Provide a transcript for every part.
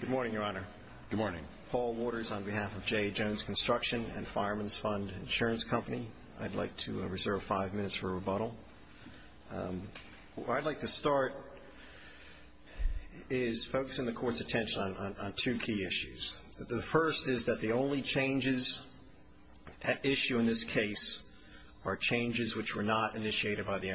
Good morning, Your Honor. Good morning. Paul Waters on behalf of J.A. Jones Construction and Fireman's Fund Insurance Company. I'd like to reserve five minutes for rebuttal. What I'd like to start is focusing the Court's attention on two key issues. The first is that the only changes at issue in this case are changes which were not initiated by the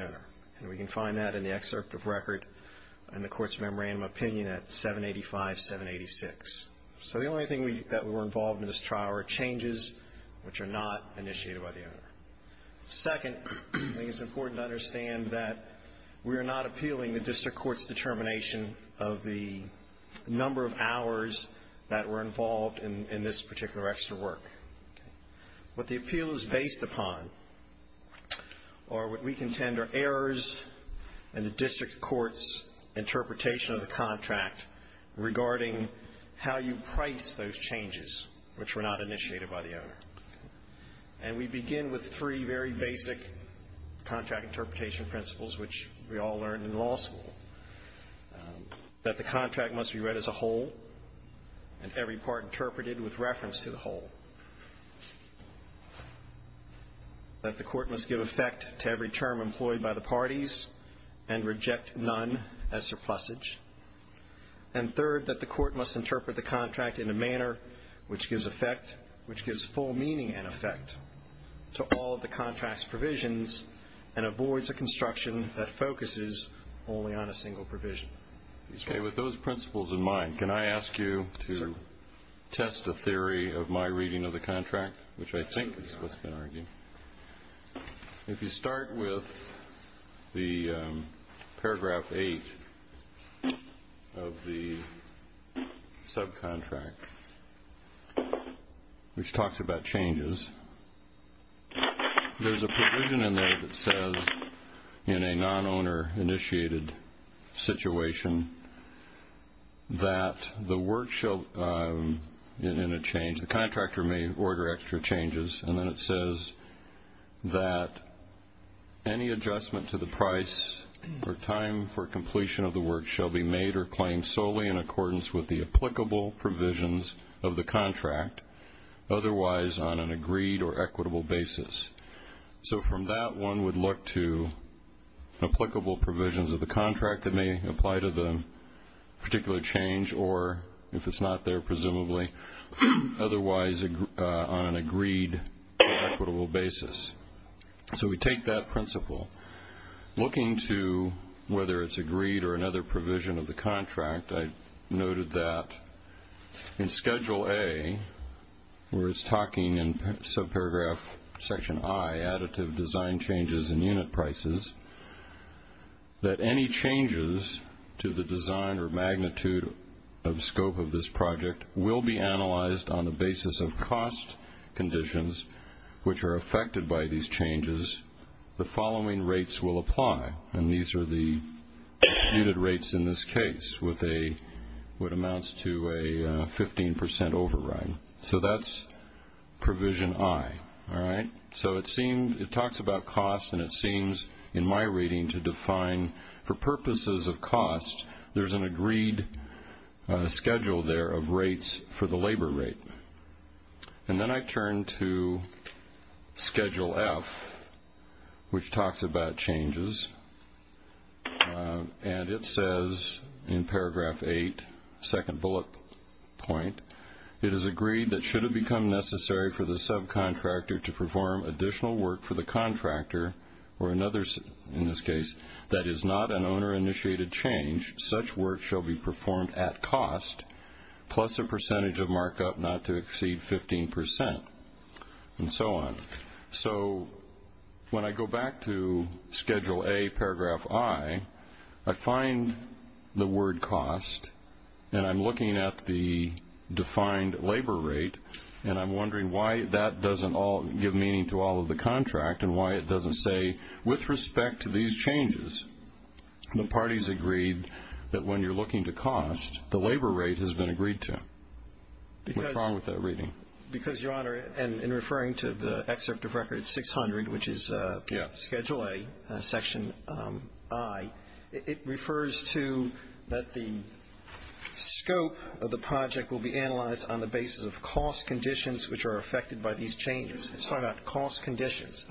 785-786. So the only thing that were involved in this trial are changes which are not initiated by the owner. Second, I think it's important to understand that we are not appealing the District Court's determination of the number of hours that were involved in this particular extra work. What the appeal is based upon, or what we contend, are errors in the District Court's interpretation of the contract regarding how you price those changes which were not initiated by the owner. And we begin with three very basic contract interpretation principles which we all learned in law school. That the contract must be read as a whole and every part interpreted with reference to the whole. That the Court must give effect to every term employed by the parties and reject none as surplusage. And third, that the Court must interpret the contract in a manner which gives full meaning and effect to all of the contract's provisions and avoids a construction that focuses only on a single provision. Okay. With those principles in mind, can I ask you to test a theory of my reading of the contract, which I think is what's been argued. If you start with the paragraph eight of the subcontract, which talks about changes, there's a provision in there that says in a order extra changes. And then it says that any adjustment to the price or time for completion of the work shall be made or claimed solely in accordance with the applicable provisions of the contract, otherwise on an agreed or equitable basis. So from that, one would look to applicable provisions of the contract that may apply to the particular change or if it's on an agreed or equitable basis. So we take that principle. Looking to whether it's agreed or another provision of the contract, I noted that in Schedule A, where it's talking in subparagraph section I, additive design changes in unit prices, that any changes to the design or magnitude of scope of this project will be analyzed on the basis of cost conditions, which are affected by these changes. The following rates will apply. And these are the disputed rates in this case, what amounts to a 15% override. So that's provision I. All right. So it talks about cost, and it seems in my reading to define for purposes of cost, there's an agreed schedule there of rates for the labor rate. And then I turn to Schedule F, which talks about changes. And it says in paragraph 8, second bullet point, it is agreed that should it become necessary for the subcontractor to perform additional work for the contractor or another, in this case, that is not an owner-initiated change, such work shall be performed at cost, plus a percentage of markup not to exceed 15%, and so on. So when I go back to Schedule A, paragraph I, I find the word cost, and I'm looking at the defined labor rate, and I'm wondering why that doesn't all give meaning to all of the contract and why it doesn't say, with respect to these changes, the parties agreed that when you're looking to cost, the labor rate has been agreed to. What's wrong with that reading? Because, Your Honor, and in referring to the excerpt of Record 600, which is Schedule A, section I, it refers to that the scope of the project will be analyzed on the basis of cost conditions which are affected by these changes. It's talking about cost conditions,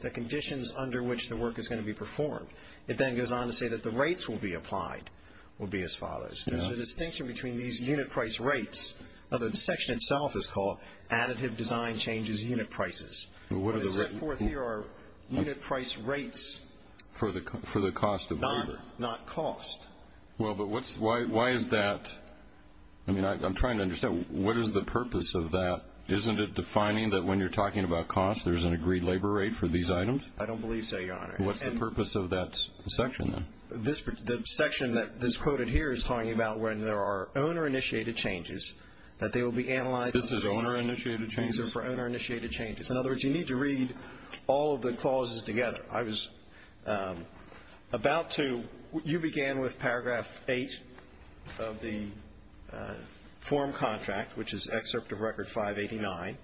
the conditions under which the work is going to be performed. It then goes on to say that the rates will be applied will be as follows. There's a distinction between these unit price rates. Now, the section itself is called additive design changes unit prices. What is set forth here are unit price rates for the cost of labor, not cost. Well, but why is that? I mean, I'm trying to understand. What is the purpose of that? Isn't it defining that when you're talking about cost, there's an agreed labor rate for these items? I don't believe so, Your Honor. What's the purpose of that section, then? The section that's quoted here is talking about when there are owner-initiated changes, that they will be analyzed. This is owner-initiated changes? These are for owner-initiated changes. In other words, you need to read all of the clauses together. I was about to, you began with paragraph 8 of the form contract, which is excerpt of record 589.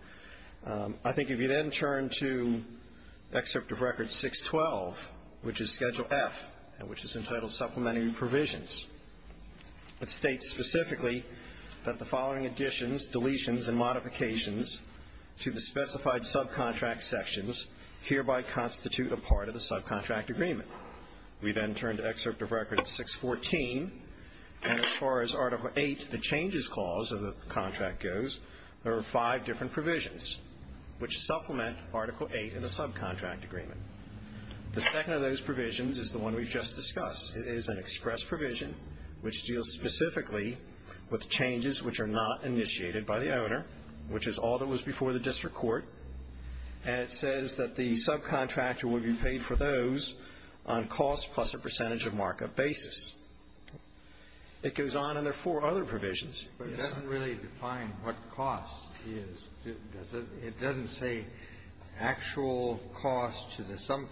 I think if you then turn to excerpt of record 612, which is Schedule F, and which is entitled Supplementary Provisions, it states specifically that the following additions, deletions, and modifications to the specified subcontract sections hereby constitute a part of the subcontract agreement. We then turn to excerpt of record 614, and as far as Article VIII, the Changes Clause of the contract goes, there are five different provisions which supplement Article VIII in the subcontract agreement. The second of those provisions is the one we've just discussed. It is an express provision which deals specifically with changes which are not initiated by the owner, which is all that was before the district court, and it says that the subcontractor will be paid for those on cost plus a percentage of markup basis. It goes on, and there are four other provisions. But it doesn't really define what cost is, does it? It doesn't say actual cost to the owner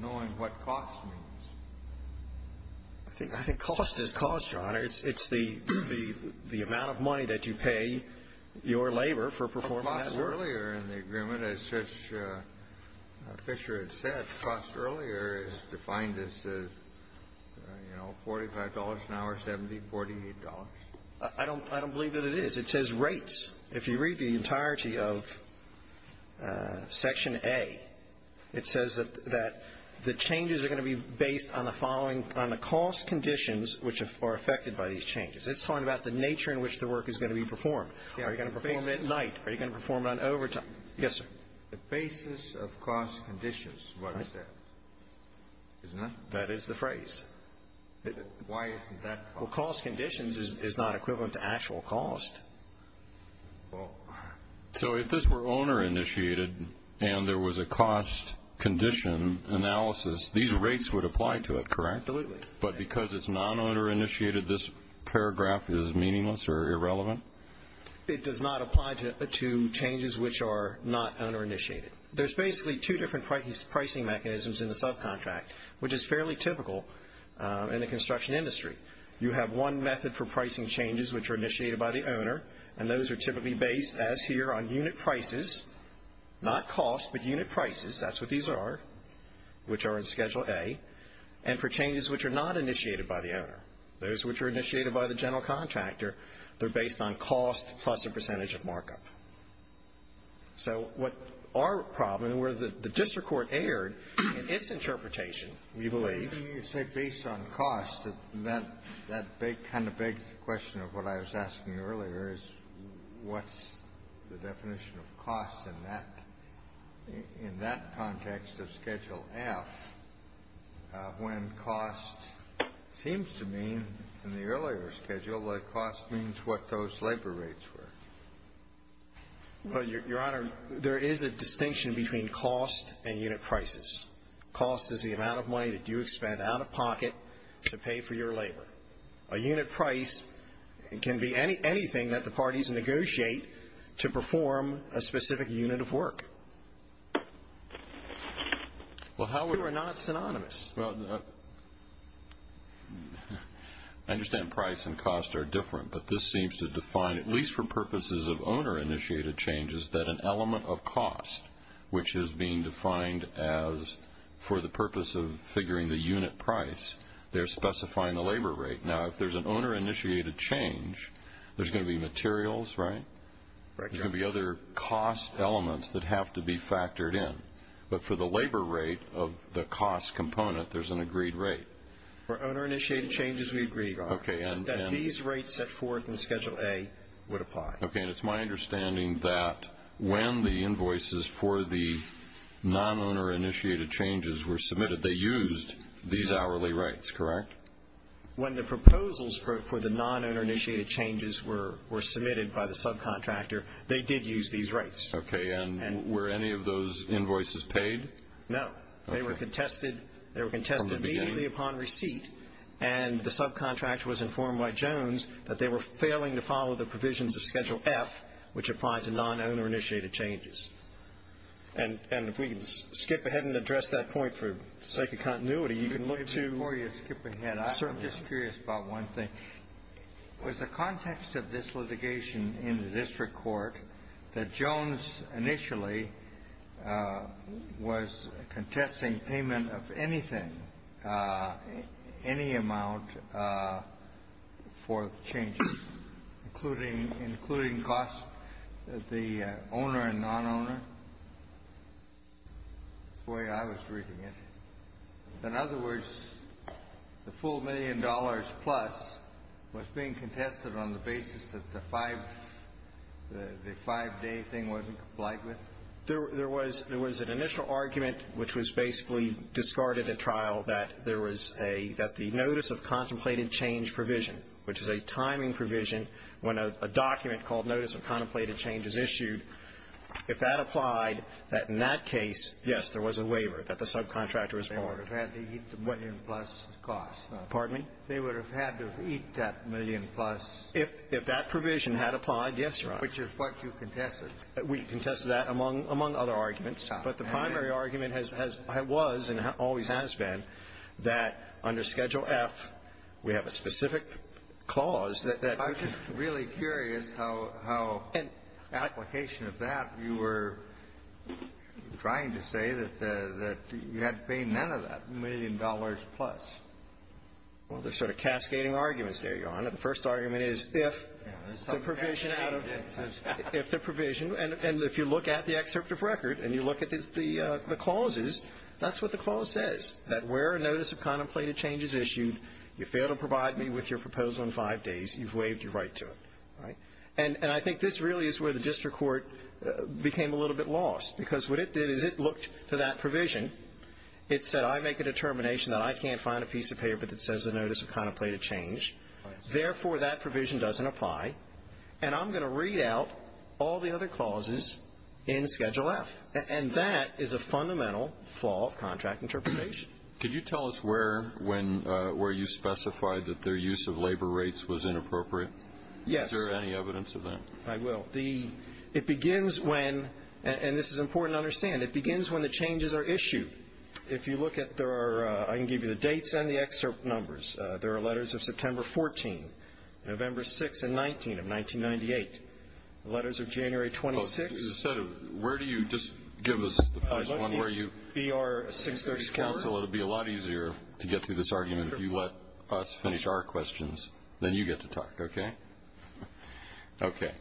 knowing what cost means. I think cost is cost, Your Honor. It's the amount of money that you pay your labor for performing that work. Cost earlier in the agreement, as Fisher had said, cost earlier is defined as, you know, $45 an hour, $70, $48. I don't believe that it is. It says rates. If you read the entirety of Section A, it says that the cost the changes are going to be based on the following, on the cost conditions which are affected by these changes. It's talking about the nature in which the work is going to be performed. Are you going to perform it at night? Are you going to perform it on overtime? Yes, sir. The basis of cost conditions, what is that? That is the phrase. Why isn't that? Well, cost conditions is not equivalent to actual cost. Well, so if this were owner initiated and there was a cost condition analysis, these rates would apply to it, correct? Absolutely. But because it's non-owner initiated, this paragraph is meaningless or irrelevant? It does not apply to changes which are not owner initiated. There's basically two different pricing mechanisms in the subcontract, which is fairly typical in the construction industry. You have one method for pricing changes which are initiated by the owner, and those are typically based as here on unit prices, not cost, but unit prices. That's what these are, which are in Schedule A. And for changes which are not initiated by the owner, those which are initiated by the general contractor, they're based on cost plus a percentage of markup. So what our problem, and where the district court erred in its interpretation, we believe is based on cost. That kind of begs the question of what I was asking earlier, is what's the definition of cost in that context of Schedule F when cost seems to mean in the earlier schedule that cost means what those labor rates were? Well, Your Honor, there is a distinction between cost and unit prices. Cost is the amount of pocket to pay for your labor. A unit price can be anything that the parties negotiate to perform a specific unit of work, who are not synonymous. I understand price and cost are different, but this seems to define, at least for purposes of owner initiated changes, that an element of cost, which is being defined as for the unit price, they're specifying the labor rate. Now, if there's an owner initiated change, there's going to be materials, right? There's going to be other cost elements that have to be factored in. But for the labor rate of the cost component, there's an agreed rate. For owner initiated changes, we agree, Your Honor, that these rates set forth in Schedule A would apply. Okay, and it's my understanding that when the invoices for the non-owner initiated changes were submitted, they used these hourly rates, correct? When the proposals for the non-owner initiated changes were submitted by the subcontractor, they did use these rates. Okay, and were any of those invoices paid? No. They were contested immediately upon receipt, and the subcontractor was informed by Jones that they were failing to follow the provisions of Schedule F, which applied to non-owner I didn't address that point for the sake of continuity. You can look to Before you skip ahead, I'm just curious about one thing. Was the context of this litigation in the district court that Jones initially was contesting payment of anything, any amount for the changes, including costs, the owner and non-owner? Boy, I was reading it. In other words, the full million dollars plus was being contested on the basis that the five-day thing wasn't complied with? There was an initial argument, which was basically discarded at trial, that there was a, that the notice of contemplated change provision, which is a timing provision when a document called notice of contemplated change is issued, if that applied, that in that case, yes, there was a waiver, that the subcontractor was barred. They would have had to eat the million-plus cost. Pardon me? They would have had to eat that million-plus. If that provision had applied, yes, Your Honor. Which is what you contested. We contested that, among other arguments. But the primary argument has been, was, and always has been, that under Schedule F, we have a specific clause that that would be a waiver. And how application of that, you were trying to say that you had to pay none of that, million dollars plus. Well, there's sort of cascading arguments there, Your Honor. The first argument is, if the provision out of the statute, if the provision, and if you look at the excerpt of record, and you look at the clauses, that's what the clause says, that where a notice of contemplated change is issued, you fail to provide me with your proposal in five days, you've waived your right to it, right? And I think this really is where the district court became a little bit lost. Because what it did is, it looked to that provision, it said, I make a determination that I can't find a piece of paper that says a notice of contemplated change. Therefore, that provision doesn't apply. And I'm going to read out all the other clauses in Schedule F. And that is a fundamental flaw of contract interpretation. Could you tell us where you specified that their use of labor rates was inappropriate? Yes. Is there any evidence of that? I will. The, it begins when, and this is important to understand, it begins when the changes are issued. If you look at, there are, I can give you the dates and the excerpt numbers. There are letters of September 14, November 6 and 19 of 1998. Letters of January 26. Instead of, where do you, just give us the first one where you. BR 636. Counsel, it'll be a lot easier to get through this argument if you let us finish our questions, then you get to talk, okay? Okay.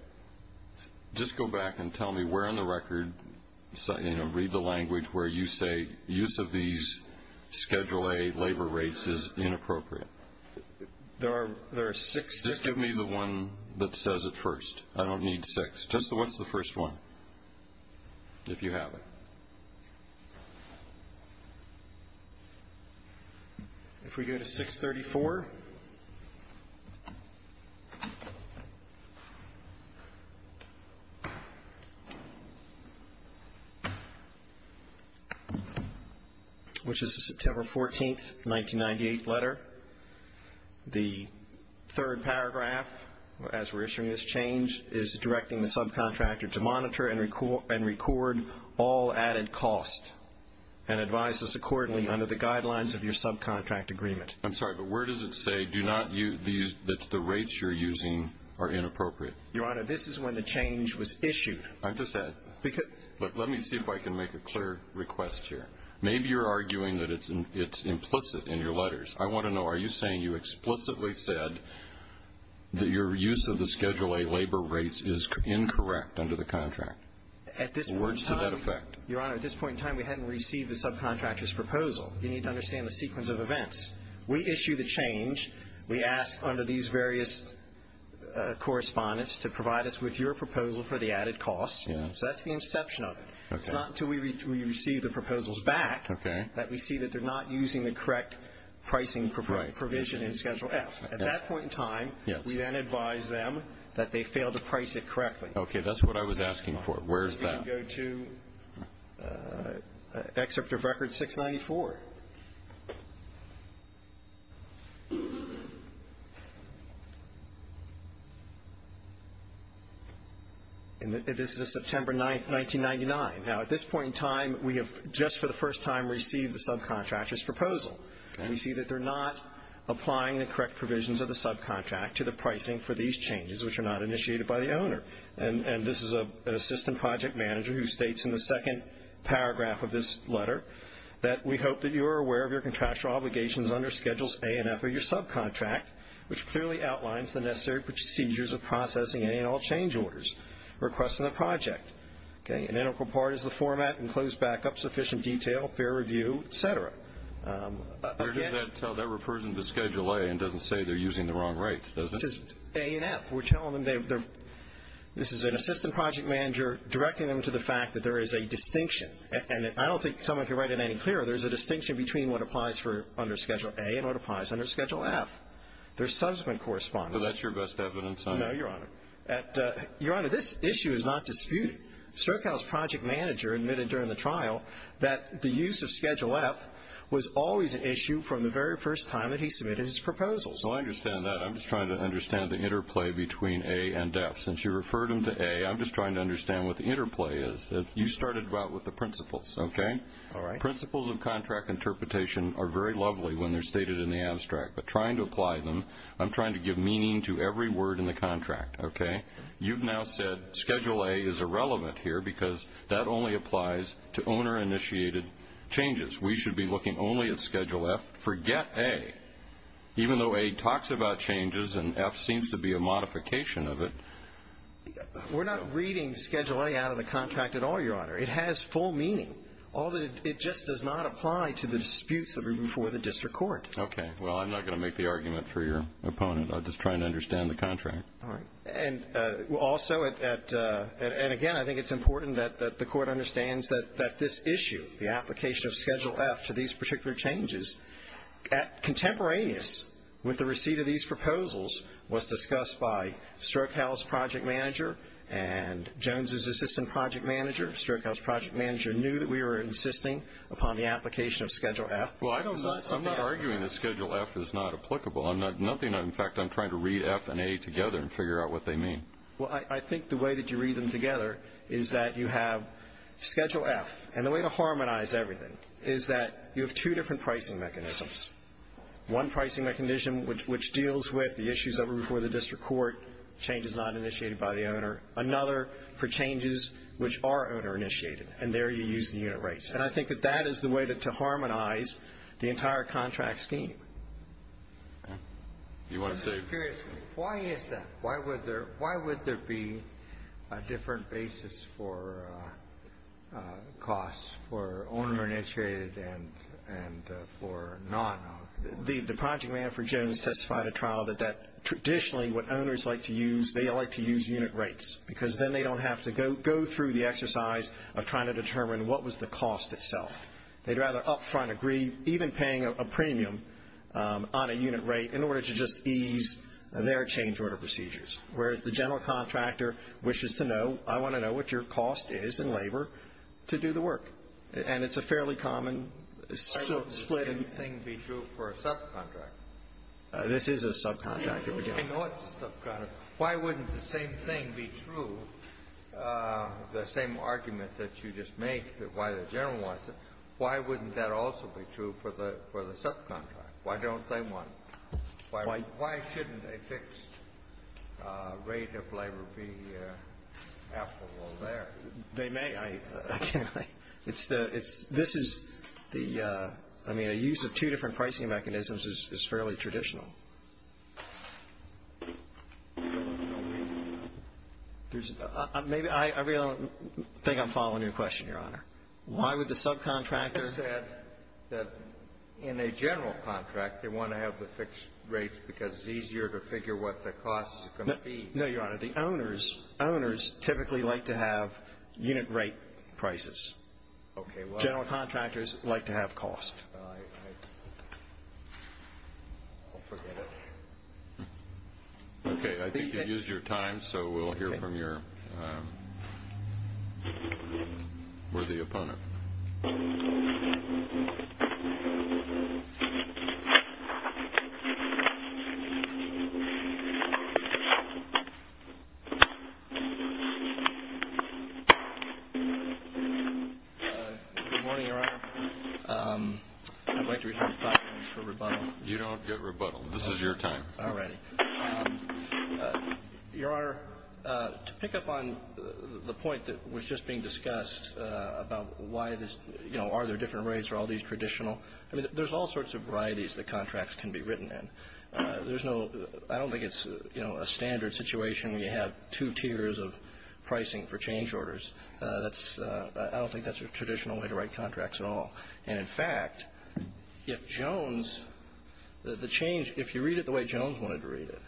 Just go back and tell me where in the record, you know, read the language where you say, use of these Schedule A labor rates is inappropriate. There are, there are six. Just give me the one that says it first. I don't need six. Just the, what's the first one? If you have it. If we go to 634. Which is the September 14th, 1998 letter. The third paragraph, as we're issuing this change, is directing the subcontractor to monitor and record all added cost. And advise us accordingly under the guidelines of your subcontract agreement. I'm sorry, but where does it say, do not use these, that the rates you're using are inappropriate? Your Honor, this is when the change was issued. I'm just asking. Because. Look, let me see if I can make a clear request here. Maybe you're arguing that it's, it's implicit in your letters. I want to know, are you saying you explicitly said that your use of the Schedule A labor rates is incorrect under the contract? At this point in time. Words to that effect. Your Honor, at this point in time, we hadn't received the subcontractor's proposal. You need to understand the sequence of events. We issue the change. We ask under these various correspondence to provide us with your proposal for the added costs. Yeah. So that's the inception of it. Okay. It's not until we receive the proposals back. Okay. That we see that they're not using the correct pricing provision in Schedule F. At that point in time. Yes. We then advise them that they failed to price it correctly. Okay, that's what I was asking for. Where's that? You can go to excerpt of record 694. And this is a September 9th, 1999. Now, at this point in time, we have just for the first time received the subcontractor's proposal. Okay. And we see that they're not applying the correct provisions of the subcontract to the pricing for these changes, which are not initiated by the owner. And, and this is a, an assistant project manager who states in the second paragraph of this letter that we hope that you are aware of your contractual obligations under Schedules A and F of your subcontract, which clearly outlines the necessary procedures of processing any and all change orders, requests in the project. Okay. An integral part is the format, enclosed backup, sufficient detail, fair review, et cetera. Where does that, that refers into Schedule A and doesn't say they're using the wrong rates, does it? A and F. We're telling them they're, this is an assistant project manager directing them to the fact that there is a distinction. And I don't think someone can write it any clearer. There's a distinction between what applies for under Schedule A and what applies under Schedule F. There's subsequent correspondence. So that's your best evidence on it? No, Your Honor. At, Your Honor, this issue is not disputed. Strokow's project manager admitted during the trial that the use of Schedule F was always an issue from the very first time that he submitted his proposals. Well, I understand that. I'm just trying to understand the interplay between A and F. Since you referred him to A, I'm just trying to understand what the interplay is. That you started out with the principles. Okay. All right. Principles of contract interpretation are very lovely when they're stated in the abstract. But trying to apply them, I'm trying to give meaning to every word in the contract, okay? You've now said Schedule A is irrelevant here because that only applies to owner-initiated changes. We should be looking only at Schedule F. Forget A. Even though A talks about changes and F seems to be a modification of it. We're not reading Schedule A out of the contract at all, Your Honor. It has full meaning. All that it just does not apply to the disputes that were before the district court. Okay. Well, I'm not going to make the argument for your opponent. I'm just trying to understand the contract. All right. And also, and again, I think it's important that the court understands that this issue, the application of Schedule F to these particular changes, contemporaneous with the receipt of these proposals was discussed by Strokow's project manager and Jones's assistant project manager. Strokow's project manager knew that we were insisting upon the application of Schedule F. Well, I'm not arguing that Schedule F is not applicable. I'm not, nothing, in fact, I'm trying to read F and A together and figure out what they mean. Well, I think the way that you read them together is that you have Schedule F. And the way to harmonize everything is that you have two different pricing mechanisms. One pricing mechanism which deals with the issues that were before the district court, changes not initiated by the owner. Another for changes which are owner-initiated. And there you use the unit rates. And I think that that is the way to harmonize the entire contract scheme. Okay. You want to say? Curiously, why is that? Why would there be a different basis for costs for owner-initiated and for non-owner? The project manager for Jones testified at trial that that traditionally what owners like to use, they like to use unit rates. Because then they don't have to go through the exercise of trying to determine what was the cost itself. They'd rather up front agree, even paying a premium on a unit rate in order to just ease their change order procedures. Whereas the general contractor wishes to know, I want to know what your cost is in labor to do the work. And it's a fairly common split. Why wouldn't the same thing be true for a subcontractor? This is a subcontractor. I know it's a subcontractor. Why wouldn't the same thing be true, the same argument that you just make, that why the general wants it, why wouldn't that also be true for the subcontractor? Why don't they want it? Why shouldn't a fixed rate of labor be applicable there? They may. I mean, I can't. It's the, it's, this is the, I mean, a use of two different pricing mechanisms is fairly traditional. There's, maybe, I really don't think I'm following your question, Your Honor. Why would the subcontractor say that in a general contract, they want to have the fixed rates because it's easier to figure what the cost is going to be? No, Your Honor. The owners, owners typically like to have unit rate prices. Okay, well. General contractors like to have cost. Well, I, I, I'll forget it. Okay, I think you used your time, so we'll hear from your worthy opponent. Good morning, Your Honor. I'd like to reserve five minutes for rebuttal. You don't get rebuttal. This is your time. All right. Your Honor, to pick up on the point that was just being discussed about why this, you know, are there different rates, are all these traditional? I mean, there's all sorts of varieties that contracts can be written in. There's no, I don't think it's, you know, a standard situation where you have two tiers of pricing for change orders. That's, I don't think that's a traditional way to write contracts at all. And in fact, if Jones, the change, if you read it the way Jones wanted to read it,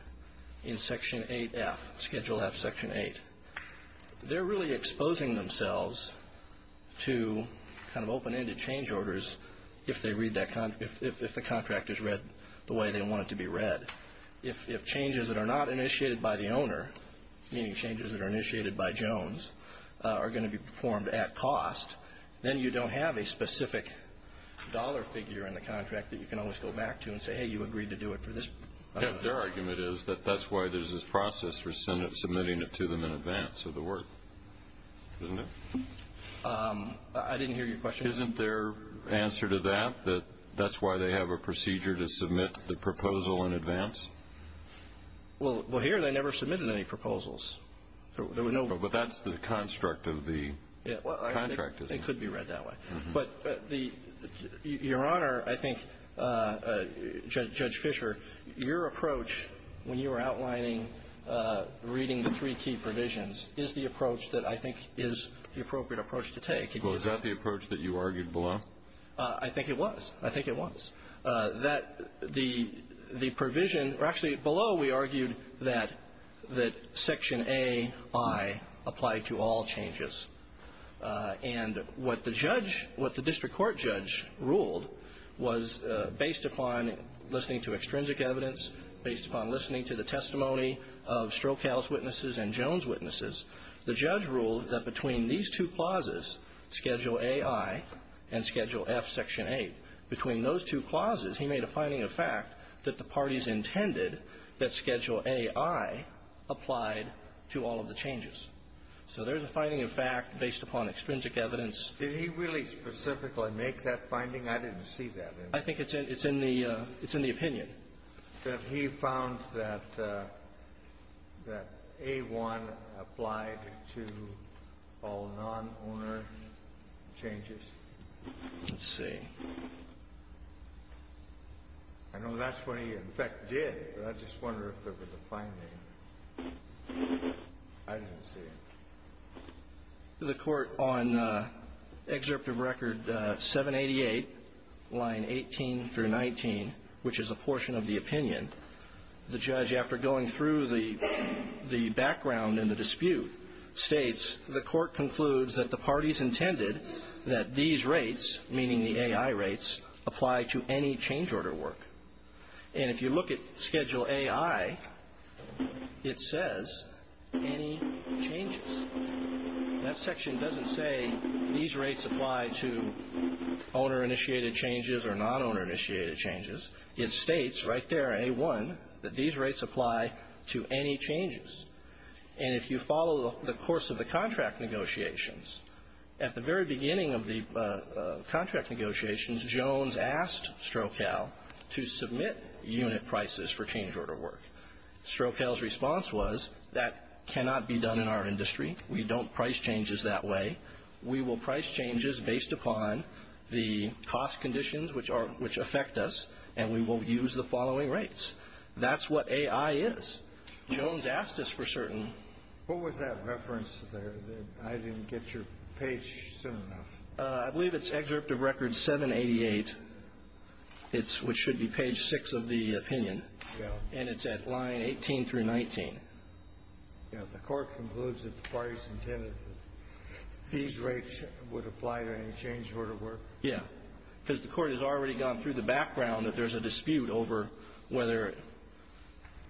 in Section 8F, Schedule F, Section 8, they're really exposing themselves to kind of open-ended change orders if they read that, if, if, if the contract is read the way they want it to be read. If, if changes that are not initiated by the owner, meaning changes that are initiated by Jones, are going to be performed at cost, then you don't have a specific dollar figure in the contract that you can always go back to and say, hey, you agreed to do it for this. Yeah, their argument is that that's why there's this process for Senate submitting it to them in advance of the work, isn't it? I didn't hear your question. Isn't their answer to that, that that's why they have a procedure to submit the proposal in advance? Well, well, here they never submitted any proposals. There were no. But that's the construct of the contract, isn't it? It could be read that way. But the, Your Honor, I think, Judge, Judge Fisher, your approach when you were outlining reading the three key provisions is the approach that I think is the appropriate approach to take. Well, is that the approach that you argued below? I think it was. I think it was. That the provision, or actually below, we argued that Section A.I. applied to all changes. And what the judge, what the district court judge ruled was based upon listening to extrinsic evidence, based upon listening to the testimony of Stroke House witnesses and Jones witnesses, the judge ruled that between these two clauses, Schedule A.I. and Schedule F, Section 8, between those two clauses, he made a finding of fact that the parties intended that Schedule A.I. applied to all of the changes. So there's a finding of fact based upon extrinsic evidence. Did he really specifically make that finding? I didn't see that. I think it's in the opinion. He said he found that A.I. applied to all non-owner changes. Let's see. I know that's what he, in fact, did, but I just wonder if there was a finding. I didn't see it. The court, on excerpt of record 788, line 18 through 19, which is a portion of the opinion, the judge, after going through the background and the dispute, states, the court concludes that the parties intended that these rates, meaning the A.I. rates, apply to any change order work. And if you look at Schedule A.I., it says any changes. That section doesn't say these rates apply to owner-initiated changes or non-owner-initiated changes. It states right there, A.I., that these rates apply to any changes. And if you follow the course of the contract negotiations, at the very beginning of the contract negotiations, Jones asked Strokal to submit unit prices for change order work. Strokal's response was, that cannot be done in our industry. We don't price changes that way. We will price changes based upon the cost conditions which affect us. And we will use the following rates. That's what A.I. is. Jones asked us for certain. What was that reference there that I didn't get your page soon enough? I believe it's excerpt of record 788, which should be page 6 of the opinion. And it's at line 18 through 19. The Court concludes that the parties intended that these rates would apply to any change order work? Yeah. Because the Court has already gone through the background that there's a dispute over whether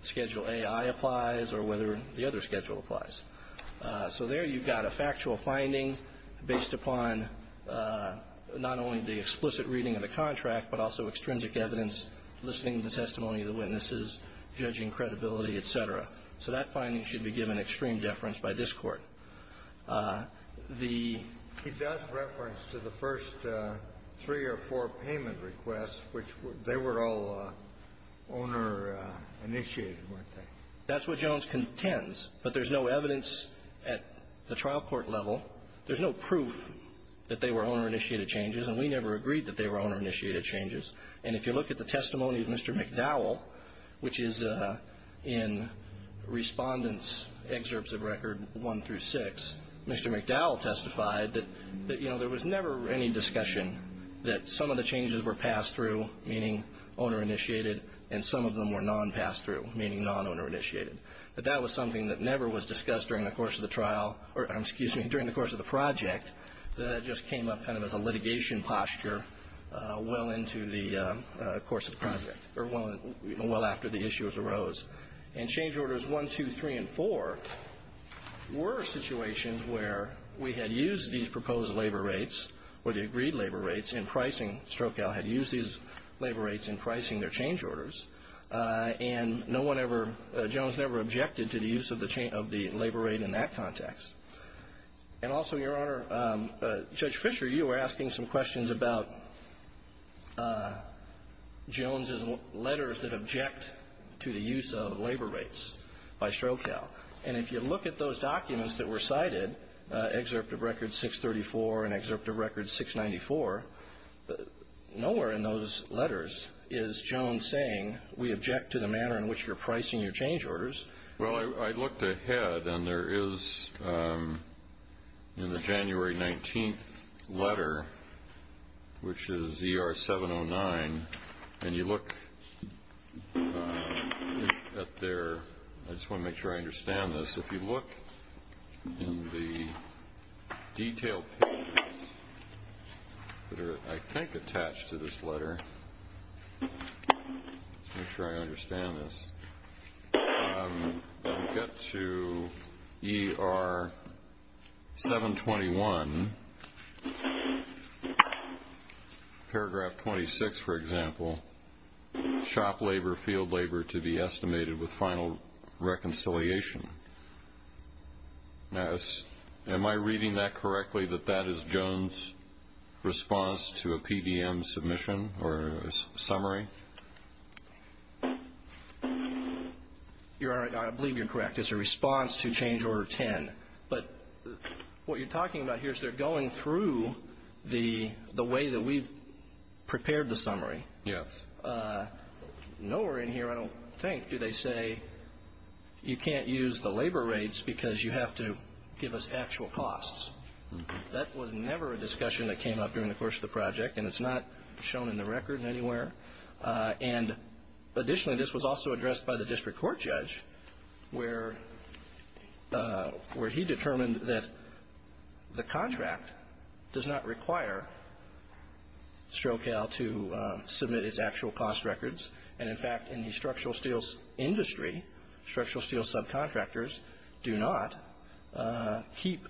Schedule A.I. applies or whether the other schedule applies. So there you've got a factual finding based upon not only the explicit reading of the contract, but also extrinsic evidence, listening to testimony of the witnesses, judging credibility, et cetera. So that finding should be given extreme deference by this Court. The He does reference to the first three or four payment requests, which they were all owner-initiated, weren't they? That's what Jones contends. But there's no evidence at the trial court level. There's no proof that they were owner-initiated changes. And we never agreed that they were owner-initiated changes. And if you look at the testimony of Mr. McDowell, which is in Respondent's Excerpts of Record 1 through 6, Mr. McDowell testified that, you know, there was never any discussion that some of the changes were pass-through, meaning owner-initiated, and some of them were non-pass-through, meaning non-owner-initiated. But that was something that never was discussed during the course of the trial, or excuse me, during the course of the project. That just came up kind of as a litigation posture well into the course of the project, or well after the issues arose. And Change Orders 1, 2, 3, and 4 were situations where we had used these proposed labor rates, or the agreed labor rates, in pricing. Strokow had used these labor rates in pricing their change orders. And no one ever, Jones never objected to the use of the labor rate in that context. And also, Your Honor, Judge Fischer, you were asking some questions about Jones's letters that object to the use of labor rates by Strokow. And if you look at those documents that were cited, Excerpt of Record 634 and Excerpt of Record 694, nowhere in those letters is Jones saying, we object to the manner in which you're pricing your change orders. Well, I looked ahead, and there is, in the January 19th letter, which is ER 709, and you look up there, I just want to make sure I understand this. If you look in the detailed papers that are, I think, attached to this letter, make sure I understand this, you get to ER 721, paragraph 26, for example, shop labor, field labor, to be estimated with final reconciliation. Now, am I reading that correctly, that that is Jones' response to a PDM submission, or a summary? Your Honor, I believe you're correct. It's a response to change order 10. But what you're talking about here is they're going through the way that we've prepared the summary. Yes. Nowhere in here, I don't think, do they say, you can't use the labor rates because you have to give us actual costs. That was never a discussion that came up during the course of the project, and it's not shown in the record anywhere. And additionally, this was also addressed by the district court judge, where he determined that the contract does not require STROCAL to submit its actual cost records. And in fact, in the structural steel industry, structural steel subcontractors do not keep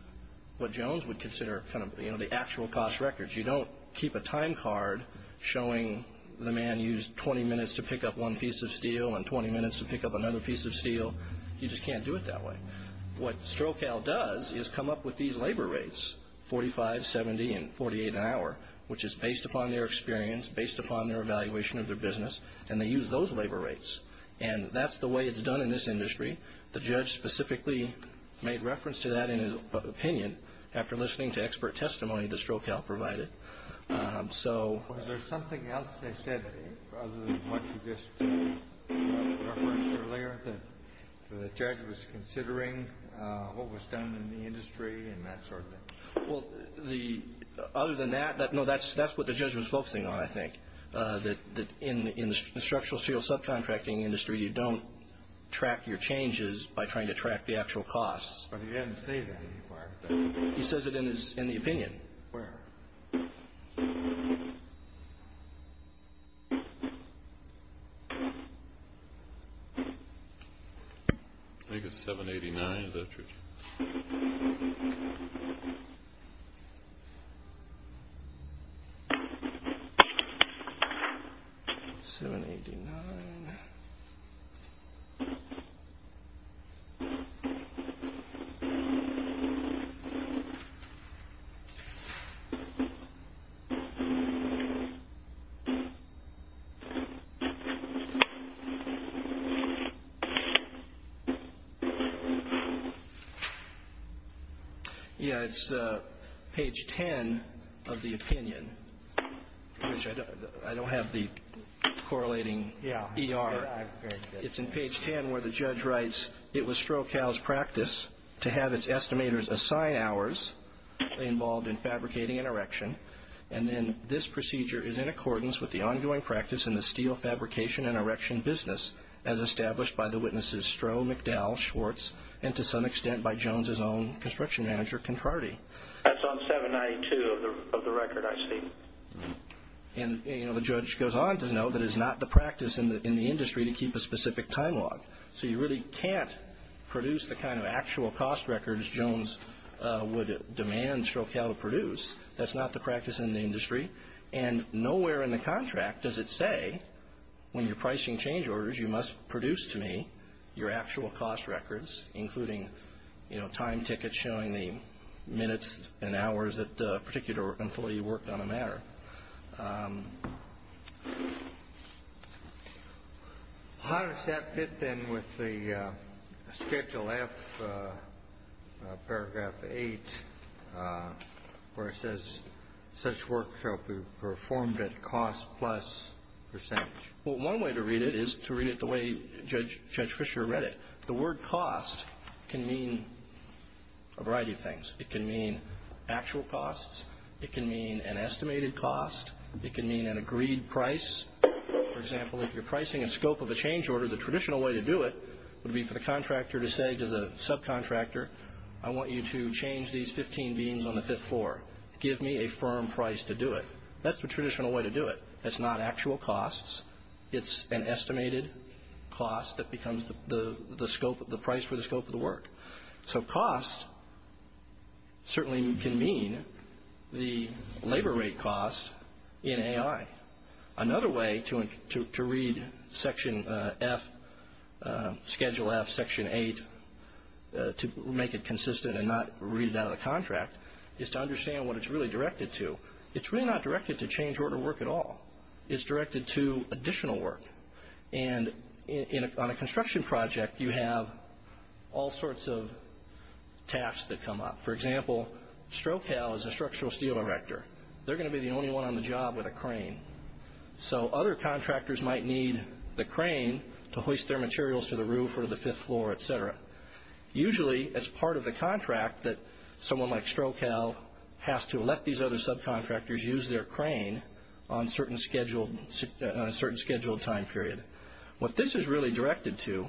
what Jones would consider the actual cost records. You don't keep a time card showing the man used 20 minutes to pick up one piece of steel and 20 minutes to pick up another piece of steel. You just can't do it that way. What STROCAL does is come up with these labor rates, 45, 70, and 48 an hour, which is based upon their experience, based upon their evaluation of their business, and they use those labor rates. And that's the way it's done in this industry. The judge specifically made reference to that in his opinion, after listening to expert testimony that STROCAL provided. So... Was there something else they said, other than what you just referenced earlier, that the judge was considering what was done in the industry and that sort of thing? Well, other than that, no, that's what the judge was focusing on, I think, that in the structural steel subcontracting industry, you don't track your changes by trying to track the actual costs. But he didn't say that anywhere. He says it in the opinion. Where? I think it's 789, is that true? 789... Yeah, it's page 10 of the opinion, which I don't have the correlating ER. It's in page 10, where the judge writes, it was STROCAL's practice to have its estimators assign hours involved in fabricating an erection, and then this procedure is in accordance with the ongoing practice in the steel fabrication and erection business, as established by the witnesses STRO, McDowell, Schwartz, and to some extent by Jones' own construction manager, Contrardi. That's on 792 of the record, I see. And, you know, the judge goes on to note that it's not the practice in the industry to keep a specific time log. So you really can't produce the kind of actual cost records Jones would demand STROCAL to produce. That's not the practice in the industry. And nowhere in the contract does it say, when you're pricing change orders, you must produce to me your actual cost records, including, you know, time tickets showing the minutes and hours that a particular employee worked on a matter. How does that fit, then, with the Schedule F, Paragraph 8, where it says such work shall be performed at cost plus percentage? Well, one way to read it is to read it the way Judge Fischer read it. The word cost can mean a variety of things. It can mean actual costs. It can mean an estimated cost. It can mean an agreed price. For example, if you're pricing a scope of a change order, the traditional way to do it would be for the contractor to say to the subcontractor, I want you to change these 15 beans on the fifth floor. Give me a firm price to do it. That's the traditional way to do it. That's not actual costs. It's an estimated cost that becomes the price for the scope of the work. So cost certainly can mean the labor rate cost in AI. Another way to read Schedule F, Section 8, to make it consistent and not read it out of the contract, is to understand what it's really directed to. It's really not directed to change order work at all. It's directed to additional work. And on a construction project, you have all sorts of tasks that come up. For example, Strokal is a structural steel director. They're going to be the only one on the job with a crane. So other contractors might need the crane to hoist their materials to the roof or the fifth floor, et cetera. Usually, it's part of the contract that someone like Strokal has to let these other subcontractors use their crane on a certain scheduled time period. What this is really directed to,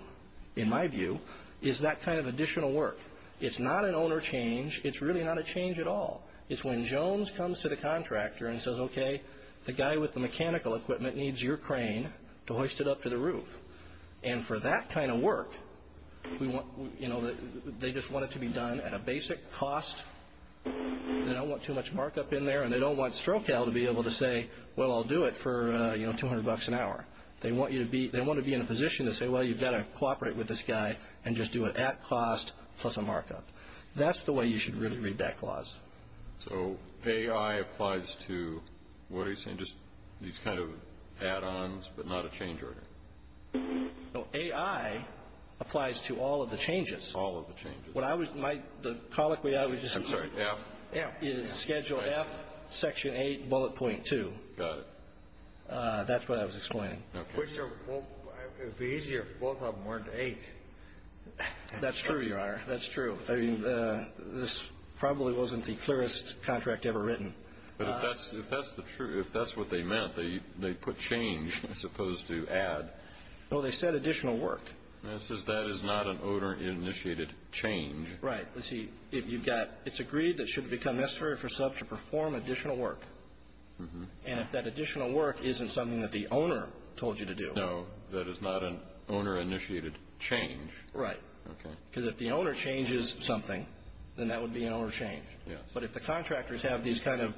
in my view, is that kind of additional work. It's not an owner change. It's really not a change at all. It's when Jones comes to the contractor and says, okay, the guy with the mechanical equipment needs your crane to hoist it up to the roof. And for that kind of work, they just want it to be done at a basic cost. They don't want too much markup in there. And they don't want Strokal to be able to say, well, I'll do it for 200 bucks an hour. They want to be in a position to say, well, you've got to cooperate with this guy and just do it at cost plus a markup. That's the way you should really read that clause. So AI applies to, what are you saying, just these kind of add-ons but not a change order? No, AI applies to all of the changes. All of the changes. The colloquy I was just using is schedule F, section 8, bullet point 2. That's what I was explaining. But it would be easier if both of them weren't 8. That's true, Your Honor. That's true. This probably wasn't the clearest contract ever written. But if that's the truth, if that's what they meant, they put change as opposed to add. No, they said additional work. It says that is not an owner-initiated change. Right. You see, it's agreed that it should become necessary for a sub to perform additional work. And if that additional work isn't something that the owner told you to do. No, that is not an owner-initiated change. Right. Because if the owner changes something, then that would be an owner change. Yes. But if the contractors have these kind of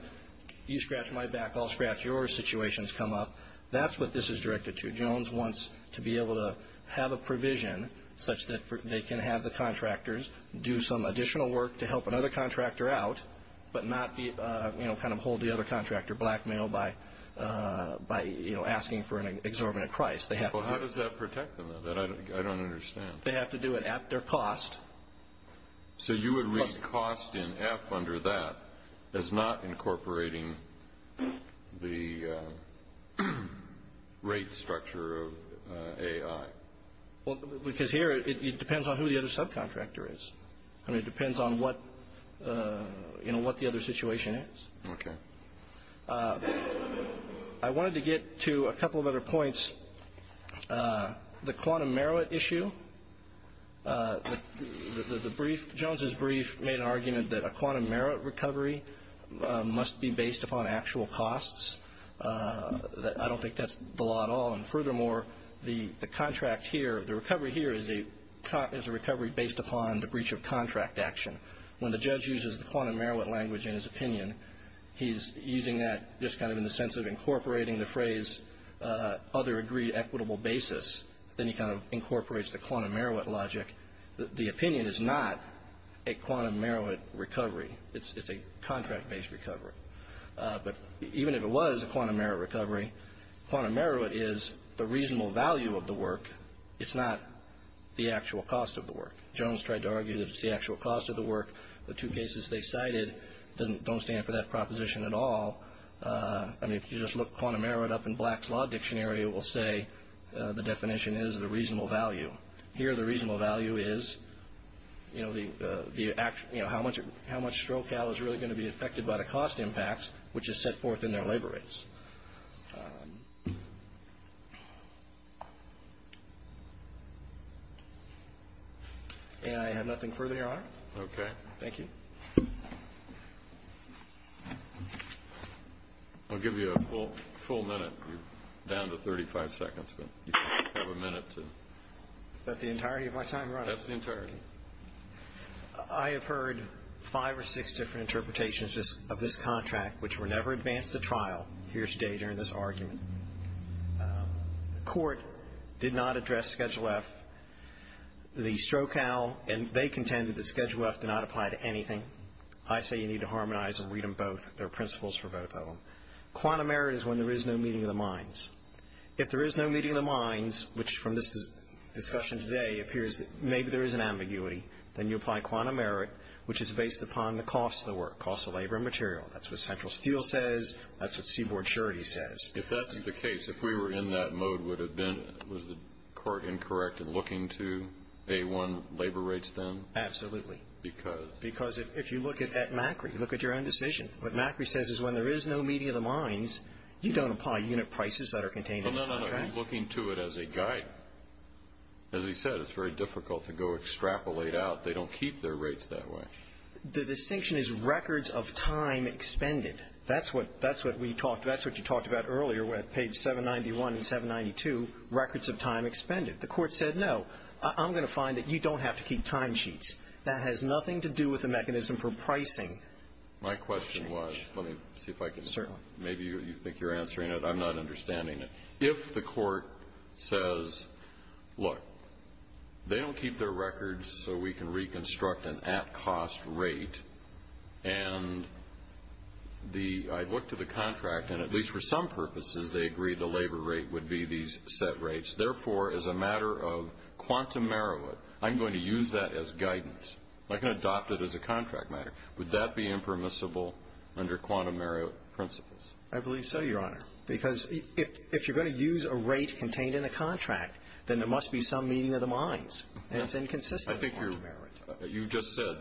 you scratch my back, I'll scratch your situations come up, that's what this is directed to. Jones wants to be able to have a provision such that they can have the contractors do some additional work to help another contractor out, but not kind of hold the other contractor blackmailed by asking for an exorbitant price. Well, how does that protect them? I don't understand. They have to do it at their cost. So you would read cost in F under that as not incorporating the rate structure of A.I.? Well, because here it depends on who the other subcontractor is. I mean, it depends on what, you know, what the other situation is. Okay. I wanted to get to a couple of other points. The quantum merit issue, the brief, Jones's brief made an argument that a quantum merit recovery must be based upon actual costs. I don't think that's the law at all. And furthermore, the contract here, the recovery here is a recovery based upon the breach of contract action. When the judge uses the quantum merit language in his opinion, he's using that just kind of in the sense of incorporating the phrase other agreed equitable basis, then he kind of incorporates the quantum merit logic. The opinion is not a quantum merit recovery. It's a contract based recovery. But even if it was a quantum merit recovery, quantum merit is the reasonable value of the work. It's not the actual cost of the work. Jones tried to argue that it's the actual cost of the work. The two cases they cited don't stand for that proposition at all. I mean, if you just look quantum merit up in Black's Law Dictionary, it will say the definition is the reasonable value here. The reasonable value is, you know, the the act, you know, how much how much stroke is really going to be affected by the cost impacts, which is set forth in their labor rates. And I have nothing further on. OK, thank you. I'll give you a full minute down to thirty five seconds, but you have a minute to set the entirety of my time. Right. That's the entirety. I have heard five or six different interpretations of this contract, which were never advanced the trial here today during this argument. The court did not address Schedule F, the Stroke Owl, and they contended that Schedule F did not apply to anything. I say you need to harmonize and read them both. There are principles for both of them. Quantum merit is when there is no meeting of the minds. If there is no meeting of the minds, which from this discussion today appears that maybe there is an ambiguity, then you apply quantum merit, which is based upon the cost of the work, cost of labor and material. That's what Central Steel says. That's what Seaboard Charities says. If that's the case, if we were in that mode, would have been was the court incorrect in looking to A1 labor rates then? Absolutely. Because? Because if you look at Macri, look at your own decision, what Macri says is when there is no meeting of the minds, you don't apply unit prices that are contained in the contract. Looking to it as a guide. As he said, it's very difficult to go extrapolate out. They don't keep their rates that way. The distinction is records of time expended. That's what we talked, that's what you talked about earlier with page 791 and 792, records of time expended. The court said, no, I'm going to find that you don't have to keep time sheets. That has nothing to do with the mechanism for pricing. My question was, let me see if I can. Certainly. Maybe you think you're answering it. I'm not understanding it. If the court says, look, they don't keep their records so we can reconstruct an at-cost rate, and the, I look to the contract, and at least for some purposes, they agree the labor rate would be these set rates. Therefore, as a matter of quantum meruit, I'm going to use that as guidance. I can adopt it as a contract matter. Would that be impermissible under quantum meruit principles? I believe so, Your Honor. Because if you're going to use a rate contained in the contract, then there must be some meeting of the minds. That's inconsistent with quantum meruit. You just said,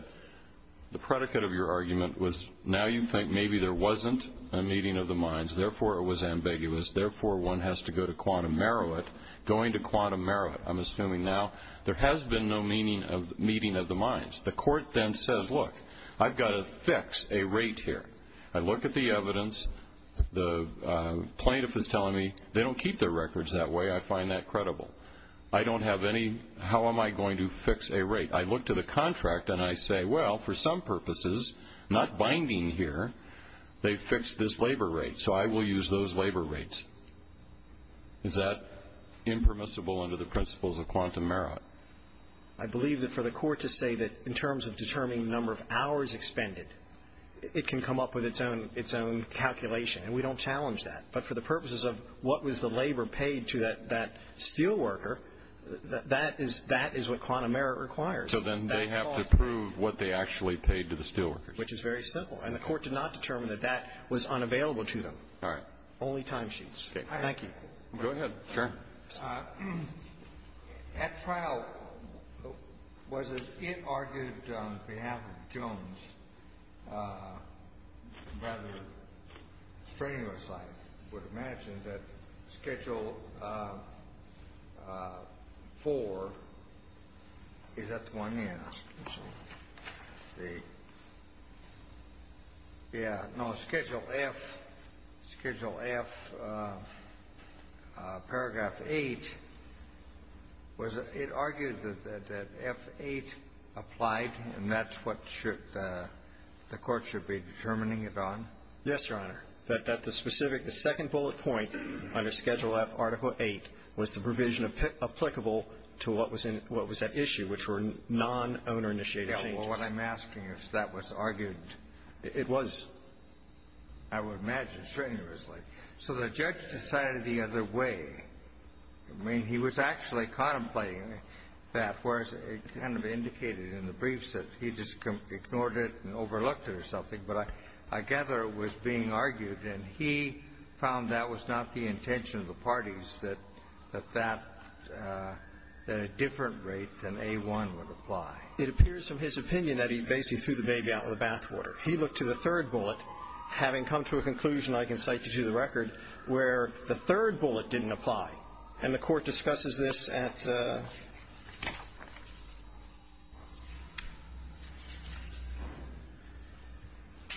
the predicate of your argument was, now you think maybe there wasn't a meeting of the minds, therefore it was ambiguous, therefore one has to go to quantum meruit. Going to quantum meruit, I'm assuming now, there has been no meeting of the minds. The court then says, look, I've got to fix a rate here. I look at the evidence, the plaintiff is telling me, they don't keep their records that way, I find that credible. I don't have any, how am I going to fix a rate? I look to the contract and I say, well, for some purposes, not binding here, they fixed this labor rate, so I will use those labor rates. Is that impermissible under the principles of quantum meruit? I believe that for the court to say that in terms of determining the number of hours expended, it can come up with its own calculation. And we don't challenge that. But for the purposes of what was the labor paid to that steelworker, that is what quantum meruit requires. So then they have to prove what they actually paid to the steelworker. Which is very simple. And the court did not determine that that was unavailable to them. All right. Only time sheets. Thank you. Go ahead. Sure. At trial, was it argued on behalf of Jones, rather strenuous, I would imagine, that schedule four, is that the one he asked? Yeah, no, schedule F, schedule F, paragraph 8, was it argued that F8 applied and that's what the court should be determining it on? Yes, Your Honor. That the specific, the second bullet point under schedule F, article 8, was the provision applicable to what was that issue, which were non-owner-initiated changes? Yeah, well, what I'm asking is if that was argued. It was. I would imagine strenuously. So the judge decided the other way. I mean, he was actually contemplating that, whereas it kind of indicated in the briefs that he just ignored it and overlooked it or something. But I gather it was being argued, and he found that was not the intention of the parties, that that, that a different rate than A1 would apply. It appears in his opinion that he basically threw the baby out in the bathwater. He looked to the third bullet, having come to a conclusion, I can cite you to the record, where the third bullet didn't apply. And the Court discusses this at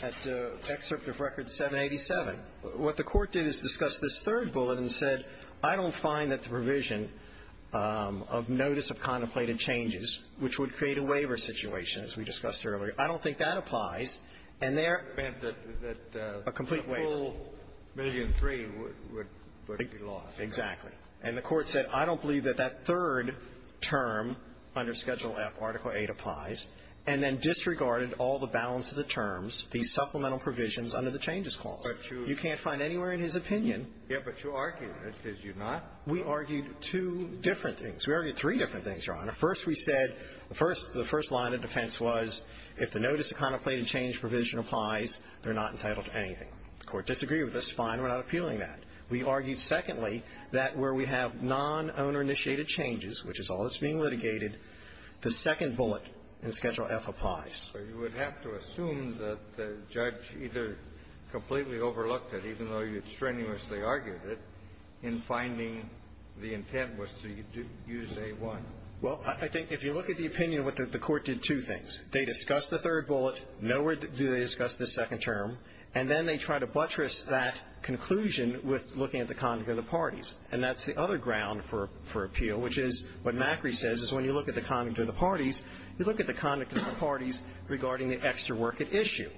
Excerpt of Record 787. What the Court did is discuss this third bullet and said, I don't find that the provision of notice of contemplated changes, which would create a waiver situation, as we discussed earlier, I don't think that applies. And there — It meant that the — A complete waiver. A full million-three would be lost. Exactly. And the Court said, I don't believe that that third term under Schedule F, Article 8, applies, and then disregarded all the balance of the terms, the supplemental provisions under the Changes Clause. You can't find anywhere in his opinion. Yes, but you argued it. Did you not? We argued two different things. We argued three different things, Your Honor. First, we said the first — the first line of defense was if the notice of contemplated change provision applies, they're not entitled to anything. The Court disagreed with us. Fine. We're not appealing that. We argued, secondly, that where we have non-owner-initiated changes, which is all that's being litigated, the second bullet in Schedule F applies. So you would have to assume that the judge either completely overlooked it, even though you strenuously argued it, in finding the intent was to use A-1. Well, I think if you look at the opinion, the Court did two things. They discussed the third bullet. Nowhere do they discuss the second term. And then they try to buttress that conclusion with looking at the conduct of the parties. And that's the other ground for — for appeal, which is what Macri says, is when you look at the conduct of the parties, you look at the conduct of the parties regarding the extra work at issue.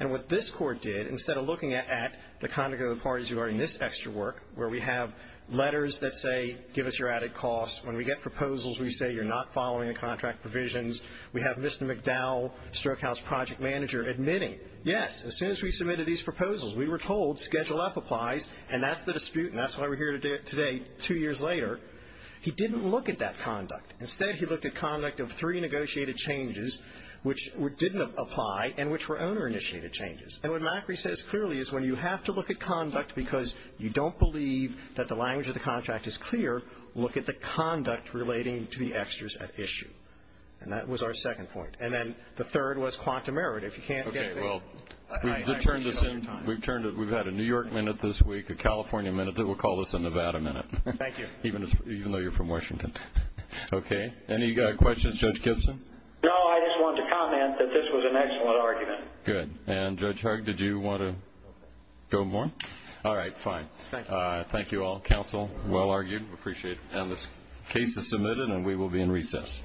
And what this Court did, instead of looking at the conduct of the parties regarding this extra work, where we have letters that say, give us your added costs, when we get proposals, we say you're not following the contract provisions, we have Mr. McDowell, StrokeHouse project manager, admitting, yes, as soon as we submitted these proposals, we were told Schedule F applies, and that's the dispute, and that's why we're here today, two years later. He didn't look at that conduct. Instead, he looked at conduct of three negotiated changes, which didn't apply, and which were owner-initiated changes. And what Macri says clearly is when you have to look at conduct because you don't believe that the language of the contract is clear, look at the conduct relating to the extras at issue. And that was our second point. And then the third was quantum merit. If you can't get there, I appreciate all your time. We've had a New York minute this week, a California minute, then we'll call this a Nevada minute. Thank you. Even though you're from Washington. Okay. Any questions? Judge Gibson? No, I just wanted to comment that this was an excellent argument. Good. And Judge Harg, did you want to go more? All right, fine. Thank you. Thank you all. Counsel, well argued. Appreciate it. And this case is submitted, and we will be in recess.